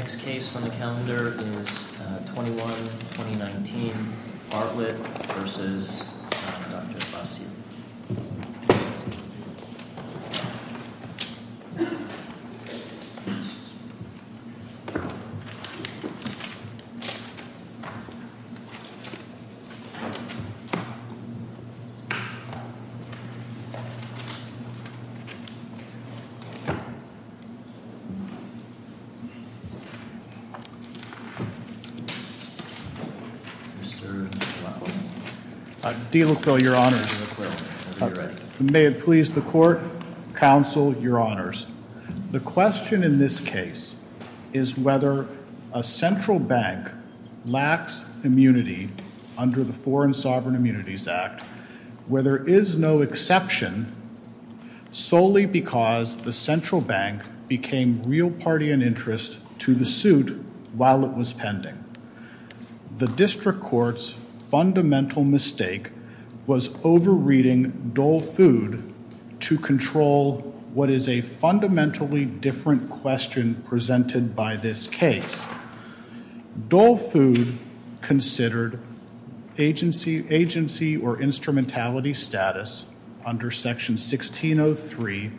Nouveau and the next case on the calendar is 21-2019 Bartlett v. Dr. Basile. Mr. Delocle, your honors. May it please the court, counsel, your honors. The question in this case is whether a central bank lacks immunity under the Foreign Sovereign Immunities Act, where there is no exception, solely because the central bank became real party and interest to the suit while it was pending. The district court's fundamental mistake was over reading Dole Food to control what is a fundamentally different question presented by this case. Dole Food considered agency or instrumentality status under section 1603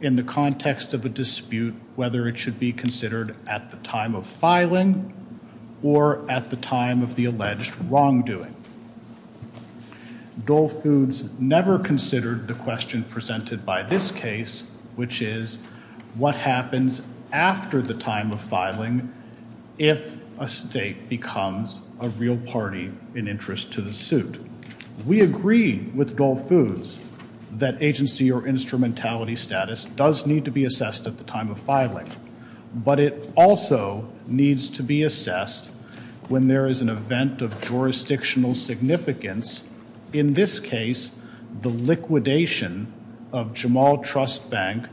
in the context of a dispute whether it should be considered at the time of filing or at the time of the alleged wrongdoing. Dole Foods never considered the question presented by this case, which is what happens after the time of filing if a state becomes a real party in interest to the suit. We agree with Dole Foods that agency or instrumentality status does need to be assessed at the time of filing, but it also needs to be assessed when there is an event of jurisdictional significance, in this case the liquidation of Jamal Trust Bank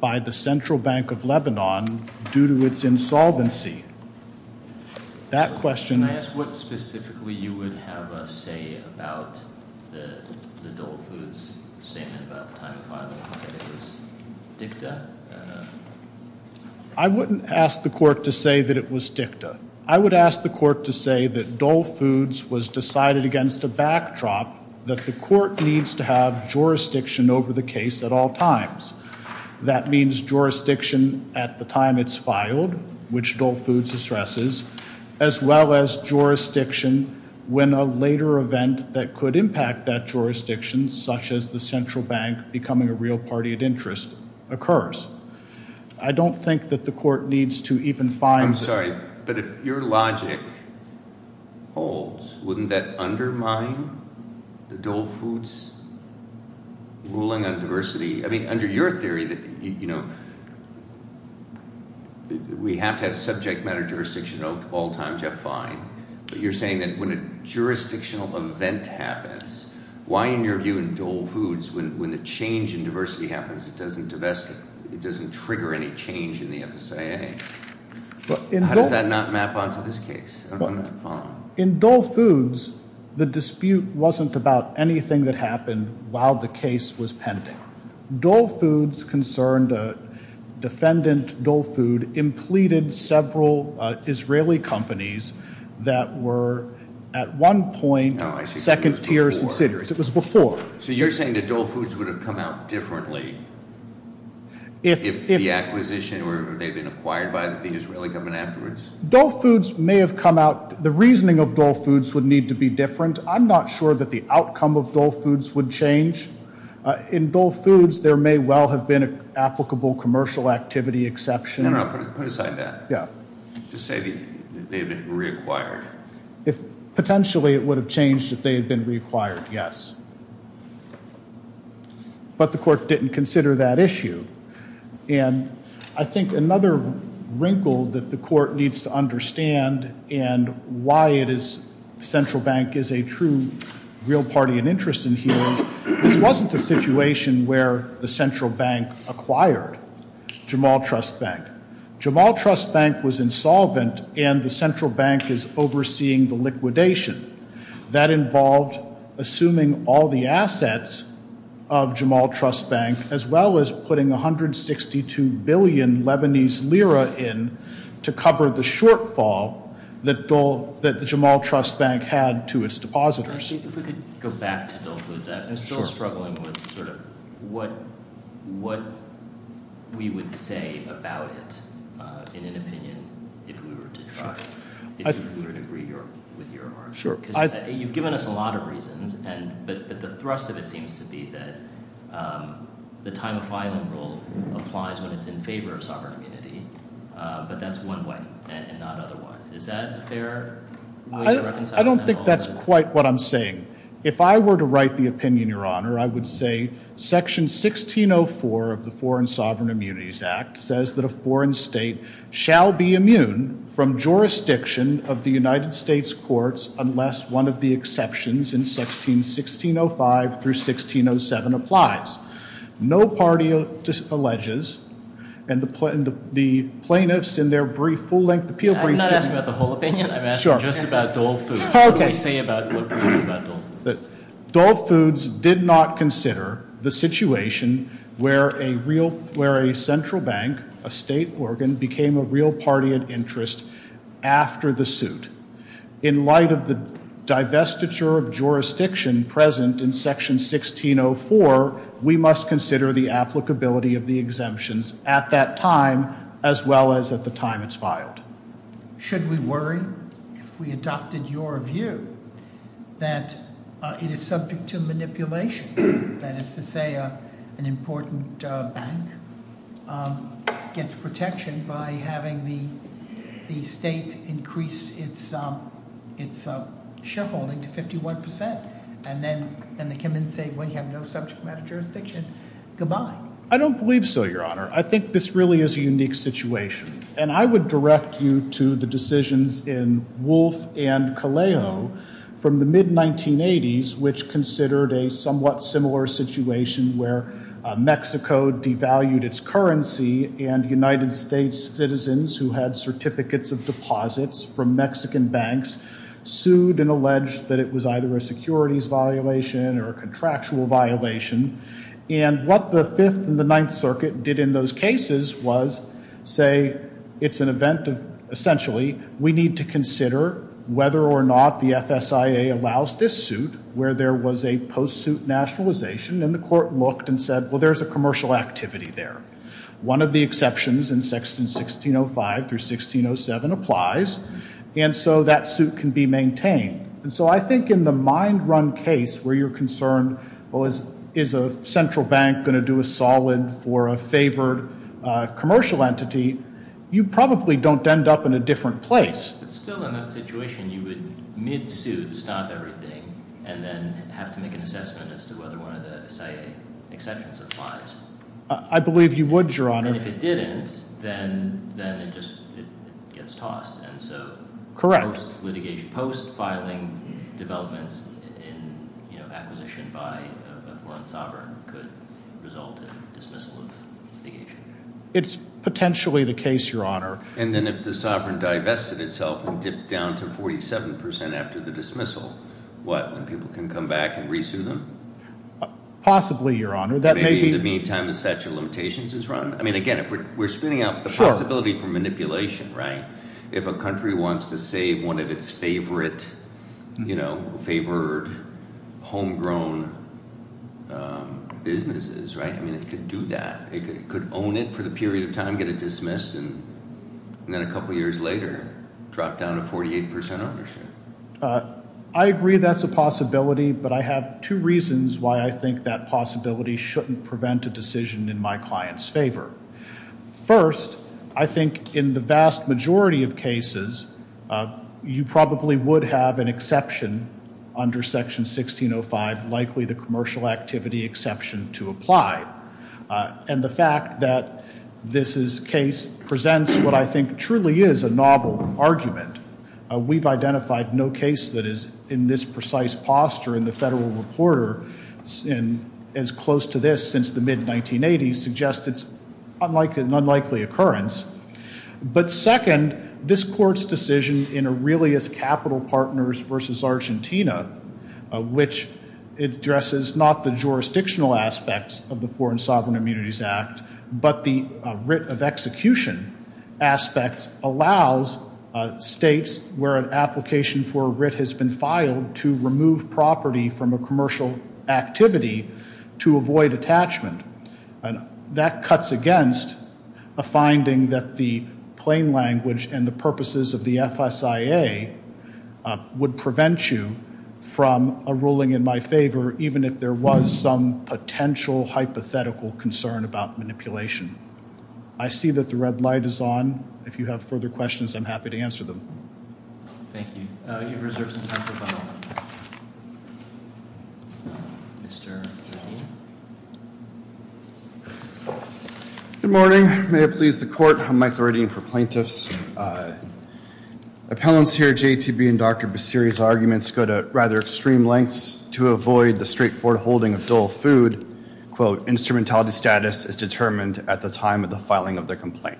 by the Central Bank of Lebanon due to its insolvency. Can I ask what specifically you would have a say about the Dole Foods statement about the time of filing, that it was dicta? I wouldn't ask the court to say that it was dicta. I would ask the court to say that Dole Foods was decided against a backdrop that the court needs to have jurisdiction over the case at all times. That means jurisdiction at the time it's filed, which Dole Foods stresses, as well as jurisdiction when a later event that could impact that jurisdiction, such as the Central Bank becoming a real party at interest, occurs. I don't think that the court needs to even file. I'm sorry, but if your logic holds, wouldn't that undermine the Dole Foods ruling on diversity? I mean, under your theory that we have to have subject matter jurisdiction at all times, you're fine, but you're saying that when a jurisdictional event happens, why in your view in Dole Foods, when the change in diversity happens, it doesn't trigger any change in the FSIA? How does that not map onto this case? In Dole Foods, the dispute wasn't about anything that happened while the case was pending. Dole Foods concerned a defendant, Dole Food, implemented several Israeli companies that were at one point second tier subsidiaries. It was before. So you're saying that Dole Foods would have come out differently if the acquisition or they had been acquired by the Israeli government afterwards? Dole Foods may have come out, the reasoning of Dole Foods would need to be different. I'm not sure that the outcome of Dole Foods would change. In Dole Foods, there may well have been an applicable commercial activity exception. No, no, put aside that. Yeah. Just say they had been reacquired. Potentially, it would have changed if they had been reacquired, yes. But the court didn't consider that issue. And I think another wrinkle that the court needs to understand and why it is Central Bank is a true real party and interest in here is, this wasn't a situation where the Central Bank acquired Jamal Trust Bank. Jamal Trust Bank was insolvent and the Central Bank is overseeing the liquidation. That involved assuming all the assets of Jamal Trust Bank as well as putting 162 billion Lebanese lira in to cover the shortfall that the Jamal Trust Bank had to its depositors. If we could go back to Dole Foods, I'm still struggling with sort of what we would say about it in an opinion if we were to try. If you would agree with your argument. Sure. Because you've given us a lot of reasons, but the thrust of it seems to be that the time of filing rule applies when it's in favor of sovereign immunity, but that's one way and not other ways. Is that a fair way to reconcile that? I don't think that's quite what I'm saying. If I were to write the opinion, Your Honor, I would say section 1604 of the Foreign Sovereign Immunities Act says that a foreign state shall be immune from jurisdiction of the United States courts unless one of the exceptions in 1605 through 1607 applies. No party alleges and the plaintiffs in their brief full-length appeal brief didn't. I'm not asking about the whole opinion. Sure. I'm asking just about Dole Foods. Okay. What do I say about what we say about Dole Foods? Dole Foods did not consider the situation where a central bank, a state organ, became a real party of interest after the suit. In light of the divestiture of jurisdiction present in section 1604, we must consider the applicability of the exemptions at that time as well as at the time it's filed. Should we worry, if we adopted your view, that it is subject to manipulation? That is to say, an important bank gets protection by having the state increase its shareholding to 51%. And then they come in and say, well, you have no subject matter jurisdiction. Goodbye. I don't believe so, Your Honor. I think this really is a unique situation. And I would direct you to the decisions in Wolfe and Caleo from the mid-1980s, which considered a somewhat similar situation where Mexico devalued its currency and United States citizens who had certificates of deposits from Mexican banks sued and alleged that it was either a securities violation or a contractual violation. And what the Fifth and the Ninth Circuit did in those cases was say, it's an event of, essentially, we need to consider whether or not the FSIA allows this suit where there was a post-suit nationalization. And the court looked and said, well, there's a commercial activity there. One of the exceptions in 1605 through 1607 applies. And so that suit can be maintained. And so I think in the mind-run case where you're concerned, well, is a central bank going to do a solid for a favored commercial entity? You probably don't end up in a different place. But still, in that situation, you would, mid-suit, stop everything and then have to make an assessment as to whether one of the FSIA exceptions applies. I believe you would, Your Honor. And if it didn't, then it just gets tossed. Correct. Post-filing developments in acquisition by a foreign sovereign could result in dismissal of litigation. It's potentially the case, Your Honor. And then if the sovereign divested itself and dipped down to 47% after the dismissal, what, when people can come back and re-sue them? Possibly, Your Honor. Maybe in the meantime the statute of limitations is run? I mean, again, we're spinning up the possibility for manipulation, right? If a country wants to save one of its favorite, you know, favored, homegrown businesses, right? I mean, it could do that. It could own it for the period of time, get it dismissed, and then a couple years later drop down to 48% ownership. I agree that's a possibility, but I have two reasons why I think that possibility shouldn't prevent a decision in my client's favor. First, I think in the vast majority of cases, you probably would have an exception under Section 1605, likely the commercial activity exception to apply. And the fact that this case presents what I think truly is a novel argument. We've identified no case that is in this precise posture in the Federal Reporter, and as close to this since the mid-1980s, suggests it's an unlikely occurrence. But second, this Court's decision in Aurelius Capital Partners v. Argentina, which addresses not the jurisdictional aspects of the Foreign Sovereign Immunities Act, but the writ of execution aspect, allows states where an application for a writ has been filed to remove property from a commercial activity to avoid attachment. And that cuts against a finding that the plain language and the purposes of the FSIA would prevent you from a ruling in my favor, even if there was some potential hypothetical concern about manipulation. I see that the red light is on. If you have further questions, I'm happy to answer them. Thank you. You have reserved some time for comment. Mr. Jardine? Good morning. May it please the Court, I'm Michael Jardine for plaintiffs. Appellants here, JTB and Dr. Baseri's arguments go to rather extreme lengths to avoid the straightforward holding of dull food. Quote, instrumentality status is determined at the time of the filing of the complaint.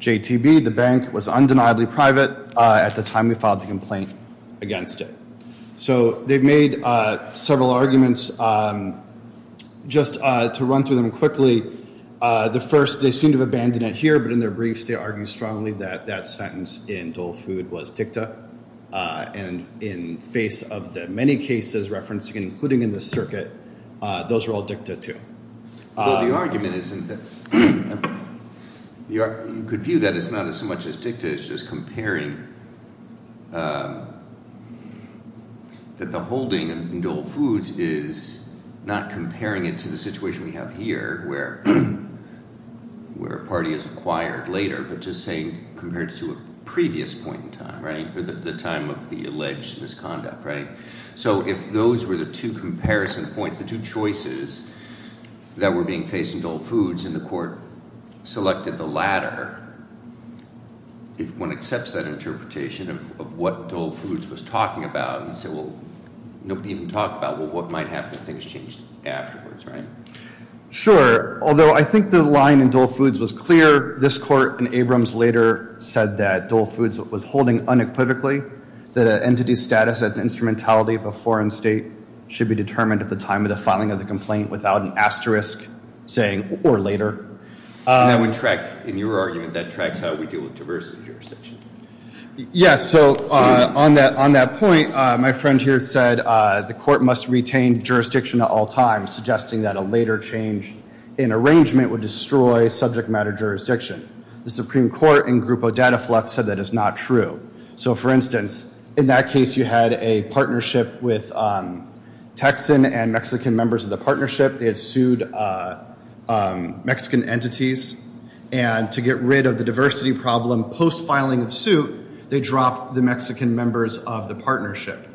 JTB, the bank, was undeniably private at the time we filed the complaint against it. So they've made several arguments. Just to run through them quickly, the first, they seem to have abandoned it here, but in their briefs, they argue strongly that that sentence in dull food was dicta. And in face of the many cases referenced, including in the circuit, those are all dicta too. Well, the argument is that you could view that it's not as much as dicta, it's just comparing that the holding in dull foods is not comparing it to the situation we have here, where a party is acquired later, but just saying compared to a previous point in time, right? The time of the alleged misconduct, right? So if those were the two comparison points, the two choices that were being faced in dull foods, and the court selected the latter, if one accepts that interpretation of what dull foods was talking about, you'd say, well, nobody even talked about what might happen if things changed afterwards, right? Sure, although I think the line in dull foods was clear. This court in Abrams later said that dull foods was holding unequivocally that an entity's status as an instrumentality of a foreign state should be determined at the time of the filing of the complaint without an asterisk saying or later. And that would track, in your argument, that tracks how we deal with diverse jurisdictions. Yes, so on that point, my friend here said the court must retain jurisdiction at all times, suggesting that a later change in arrangement would destroy subject matter jurisdiction. The Supreme Court in Grupo Dataflex said that is not true. So, for instance, in that case, you had a partnership with Texan and Mexican members of the partnership. They had sued Mexican entities. And to get rid of the diversity problem post-filing of suit, they dropped the Mexican members of the partnership.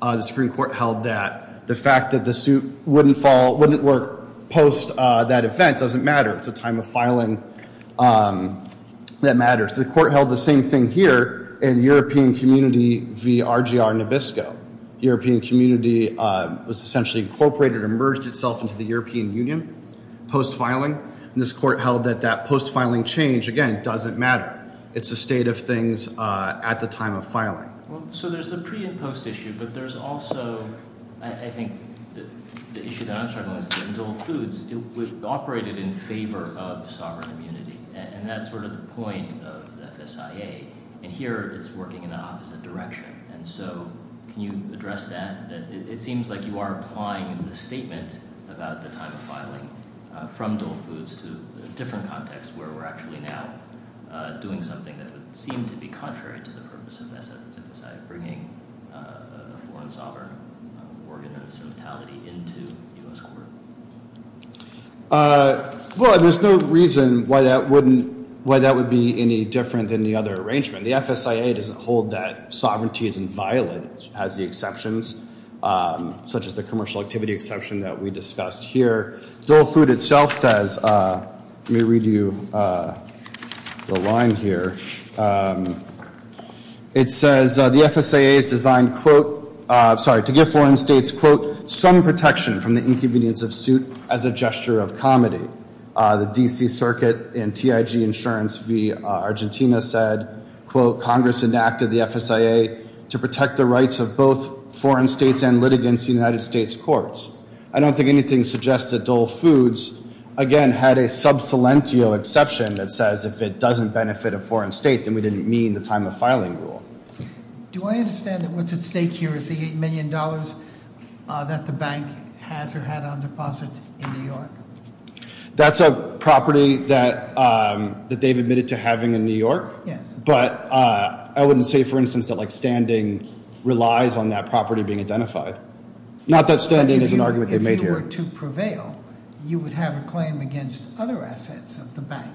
The Supreme Court held that the fact that the suit wouldn't work post that event doesn't matter. It's a time of filing that matters. The court held the same thing here in European Community v. RGR Nabisco. European Community was essentially incorporated and merged itself into the European Union post-filing. And this court held that that post-filing change, again, doesn't matter. It's a state of things at the time of filing. So there's the pre- and post-issue, but there's also, I think, the issue that I'm talking about is that dull foods operated in favor of sovereign immunity. And that's sort of the point of the FSIA. And here it's working in the opposite direction. And so can you address that? It seems like you are applying the statement about the time of filing from dull foods to a different context, where we're actually now doing something that would seem to be contrary to the purpose of the FSIA, bringing a foreign sovereign organ of instrumentality into the U.S. court. Well, there's no reason why that would be any different than the other arrangement. The FSIA doesn't hold that sovereignty is inviolate, as the exceptions, such as the commercial activity exception that we discussed here. Dull food itself says, let me read you the line here. It says, the FSIA is designed, quote, sorry, to give foreign states, quote, some protection from the inconvenience of suit as a gesture of comedy. The D.C. Circuit and TIG Insurance v. Argentina said, quote, Congress enacted the FSIA to protect the rights of both foreign states and litigants in United States courts. I don't think anything suggests that dull foods, again, had a sub silentio exception that says if it doesn't benefit a foreign state, then we didn't mean the time of filing rule. Do I understand that what's at stake here is the $8 million that the bank has or had on deposit in New York? That's a property that they've admitted to having in New York. Yes. But I wouldn't say, for instance, that standing relies on that property being identified. Not that standing is an argument they made here. If you were to prevail, you would have a claim against other assets of the bank,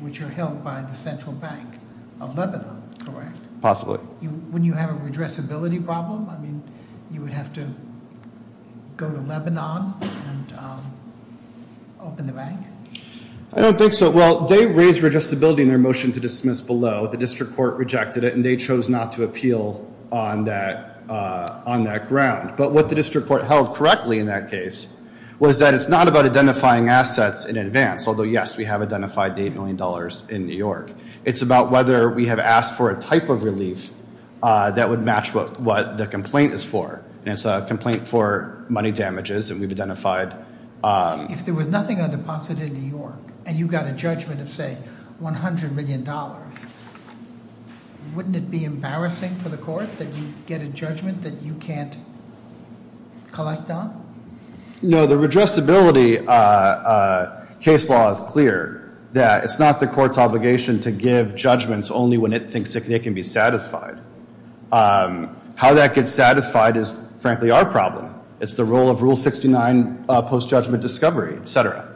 which are held by the Central Bank of Lebanon, correct? Possibly. When you have a redressability problem, I mean, you would have to go to Lebanon and open the bank? I don't think so. Well, they raised redressability in their motion to dismiss below. The district court rejected it, and they chose not to appeal on that ground. But what the district court held correctly in that case was that it's not about identifying assets in advance. Although, yes, we have identified the $8 million in New York. It's about whether we have asked for a type of relief that would match what the complaint is for. And it's a complaint for money damages, and we've identified- If there was nothing on deposit in New York, and you got a judgment of, say, $100 million, wouldn't it be embarrassing for the court that you get a judgment that you can't collect on? No. The redressability case law is clear that it's not the court's obligation to give judgments only when it thinks it can be satisfied. How that gets satisfied is, frankly, our problem. It's the role of Rule 69 post-judgment discovery, et cetera.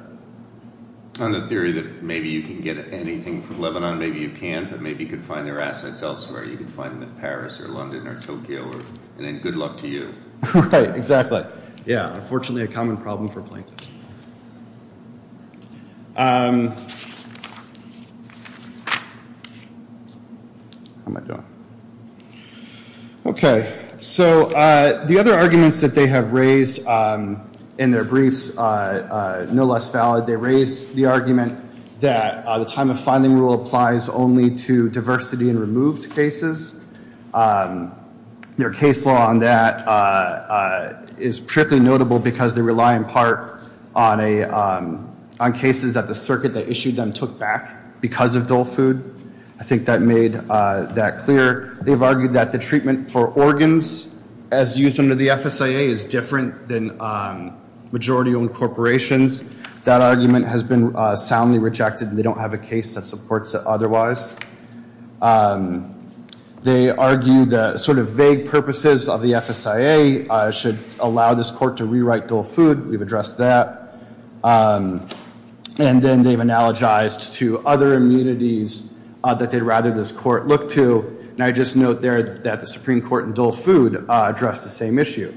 On the theory that maybe you can get anything from Lebanon, maybe you can, but maybe you could find their assets elsewhere. You could find them in Paris or London or Tokyo, and then good luck to you. Right, exactly. Yeah, unfortunately, a common problem for plaintiffs. How am I doing? Okay, so the other arguments that they have raised in their briefs, no less valid. They raised the argument that the time of finding rule applies only to diversity in removed cases. Their case law on that is particularly notable because they rely, in part, on cases that the circuit that issued them took back because of dull food. I think that made that clear. They've argued that the treatment for organs, as used under the FSIA, is different than majority-owned corporations. That argument has been soundly rejected, and they don't have a case that supports it otherwise. They argue that sort of vague purposes of the FSIA should allow this court to rewrite dull food. We've addressed that. And then they've analogized to other immunities that they'd rather this court look to, and I just note there that the Supreme Court in dull food addressed the same issue,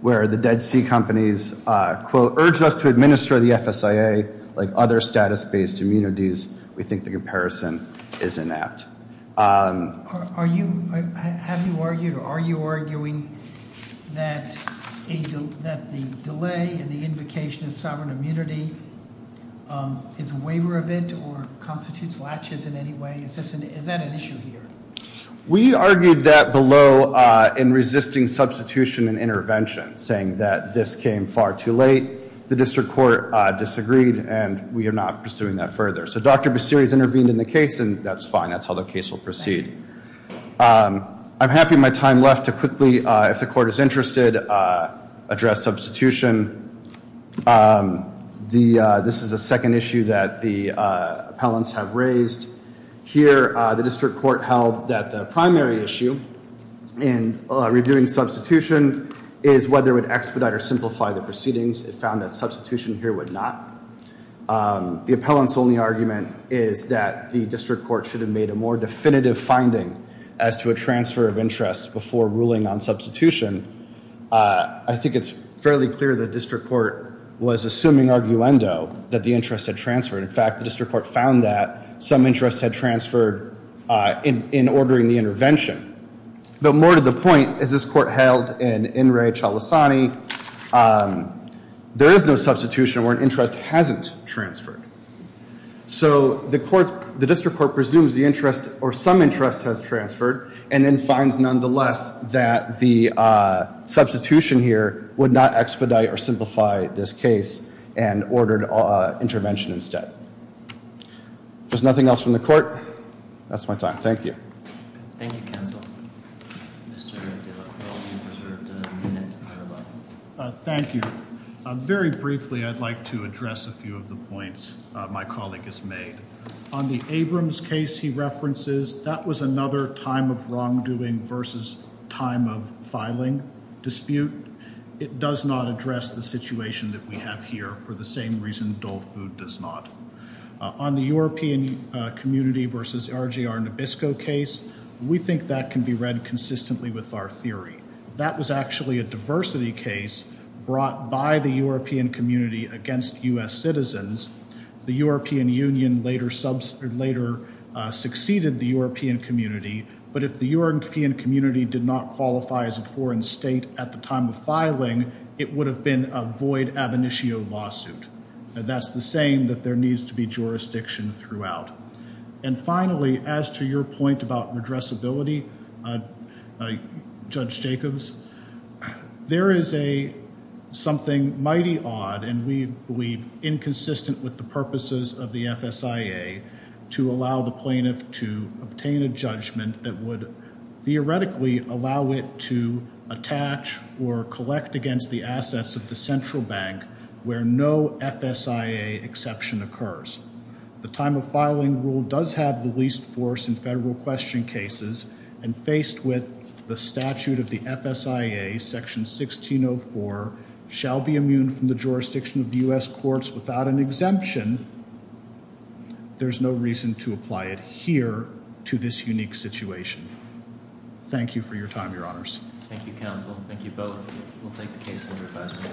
where the Dead Sea Companies, quote, urged us to administer the FSIA like other status-based immunities. We think the comparison is inept. Have you argued or are you arguing that the delay in the invocation of sovereign immunity is a waiver of it or constitutes latches in any way? Is that an issue here? We argued that below in resisting substitution and intervention, saying that this came far too late. The district court disagreed, and we are not pursuing that further. So Dr. Basiris intervened in the case, and that's fine. That's how the case will proceed. I'm happy with my time left to quickly, if the court is interested, address substitution. This is a second issue that the appellants have raised. Here, the district court held that the primary issue in reviewing substitution is whether it would expedite or simplify the proceedings. It found that substitution here would not. The appellants' only argument is that the district court should have made a more definitive finding as to a transfer of interest before ruling on substitution. I think it's fairly clear the district court was assuming arguendo that the interest had transferred. In fact, the district court found that some interest had transferred in ordering the intervention. But more to the point, as this court held in In Re Chalisani, there is no substitution where an interest hasn't transferred. So the district court presumes the interest, or some interest, has transferred, and then finds, nonetheless, that the substitution here would not expedite or simplify this case and ordered intervention instead. If there's nothing else from the court, that's my time. Thank you. Thank you, counsel. Thank you. Very briefly, I'd like to address a few of the points my colleague has made. On the Abrams case he references, that was another time of wrongdoing versus time of filing dispute. It does not address the situation that we have here for the same reason dull food does not. On the European community versus RGR Nabisco case, we think that can be read consistently with our theory. That was actually a diversity case brought by the European community against U.S. citizens. The European Union later succeeded the European community. But if the European community did not qualify as a foreign state at the time of filing, it would have been a void ab initio lawsuit. That's the saying that there needs to be jurisdiction throughout. Finally, as to your point about redressability, Judge Jacobs, there is something mighty odd and we believe inconsistent with the purposes of the FSIA to allow the plaintiff to obtain a judgment that would theoretically allow it to attach or collect against the assets of the central bank where no FSIA exception occurs. The time of filing rule does have the least force in federal question cases and faced with the statute of the FSIA, section 1604, shall be immune from the jurisdiction of the U.S. courts without an exemption, there's no reason to apply it here to this unique situation. Thank you for your time, your honors. Thank you, counsel. Thank you both. We'll take the case under advisory.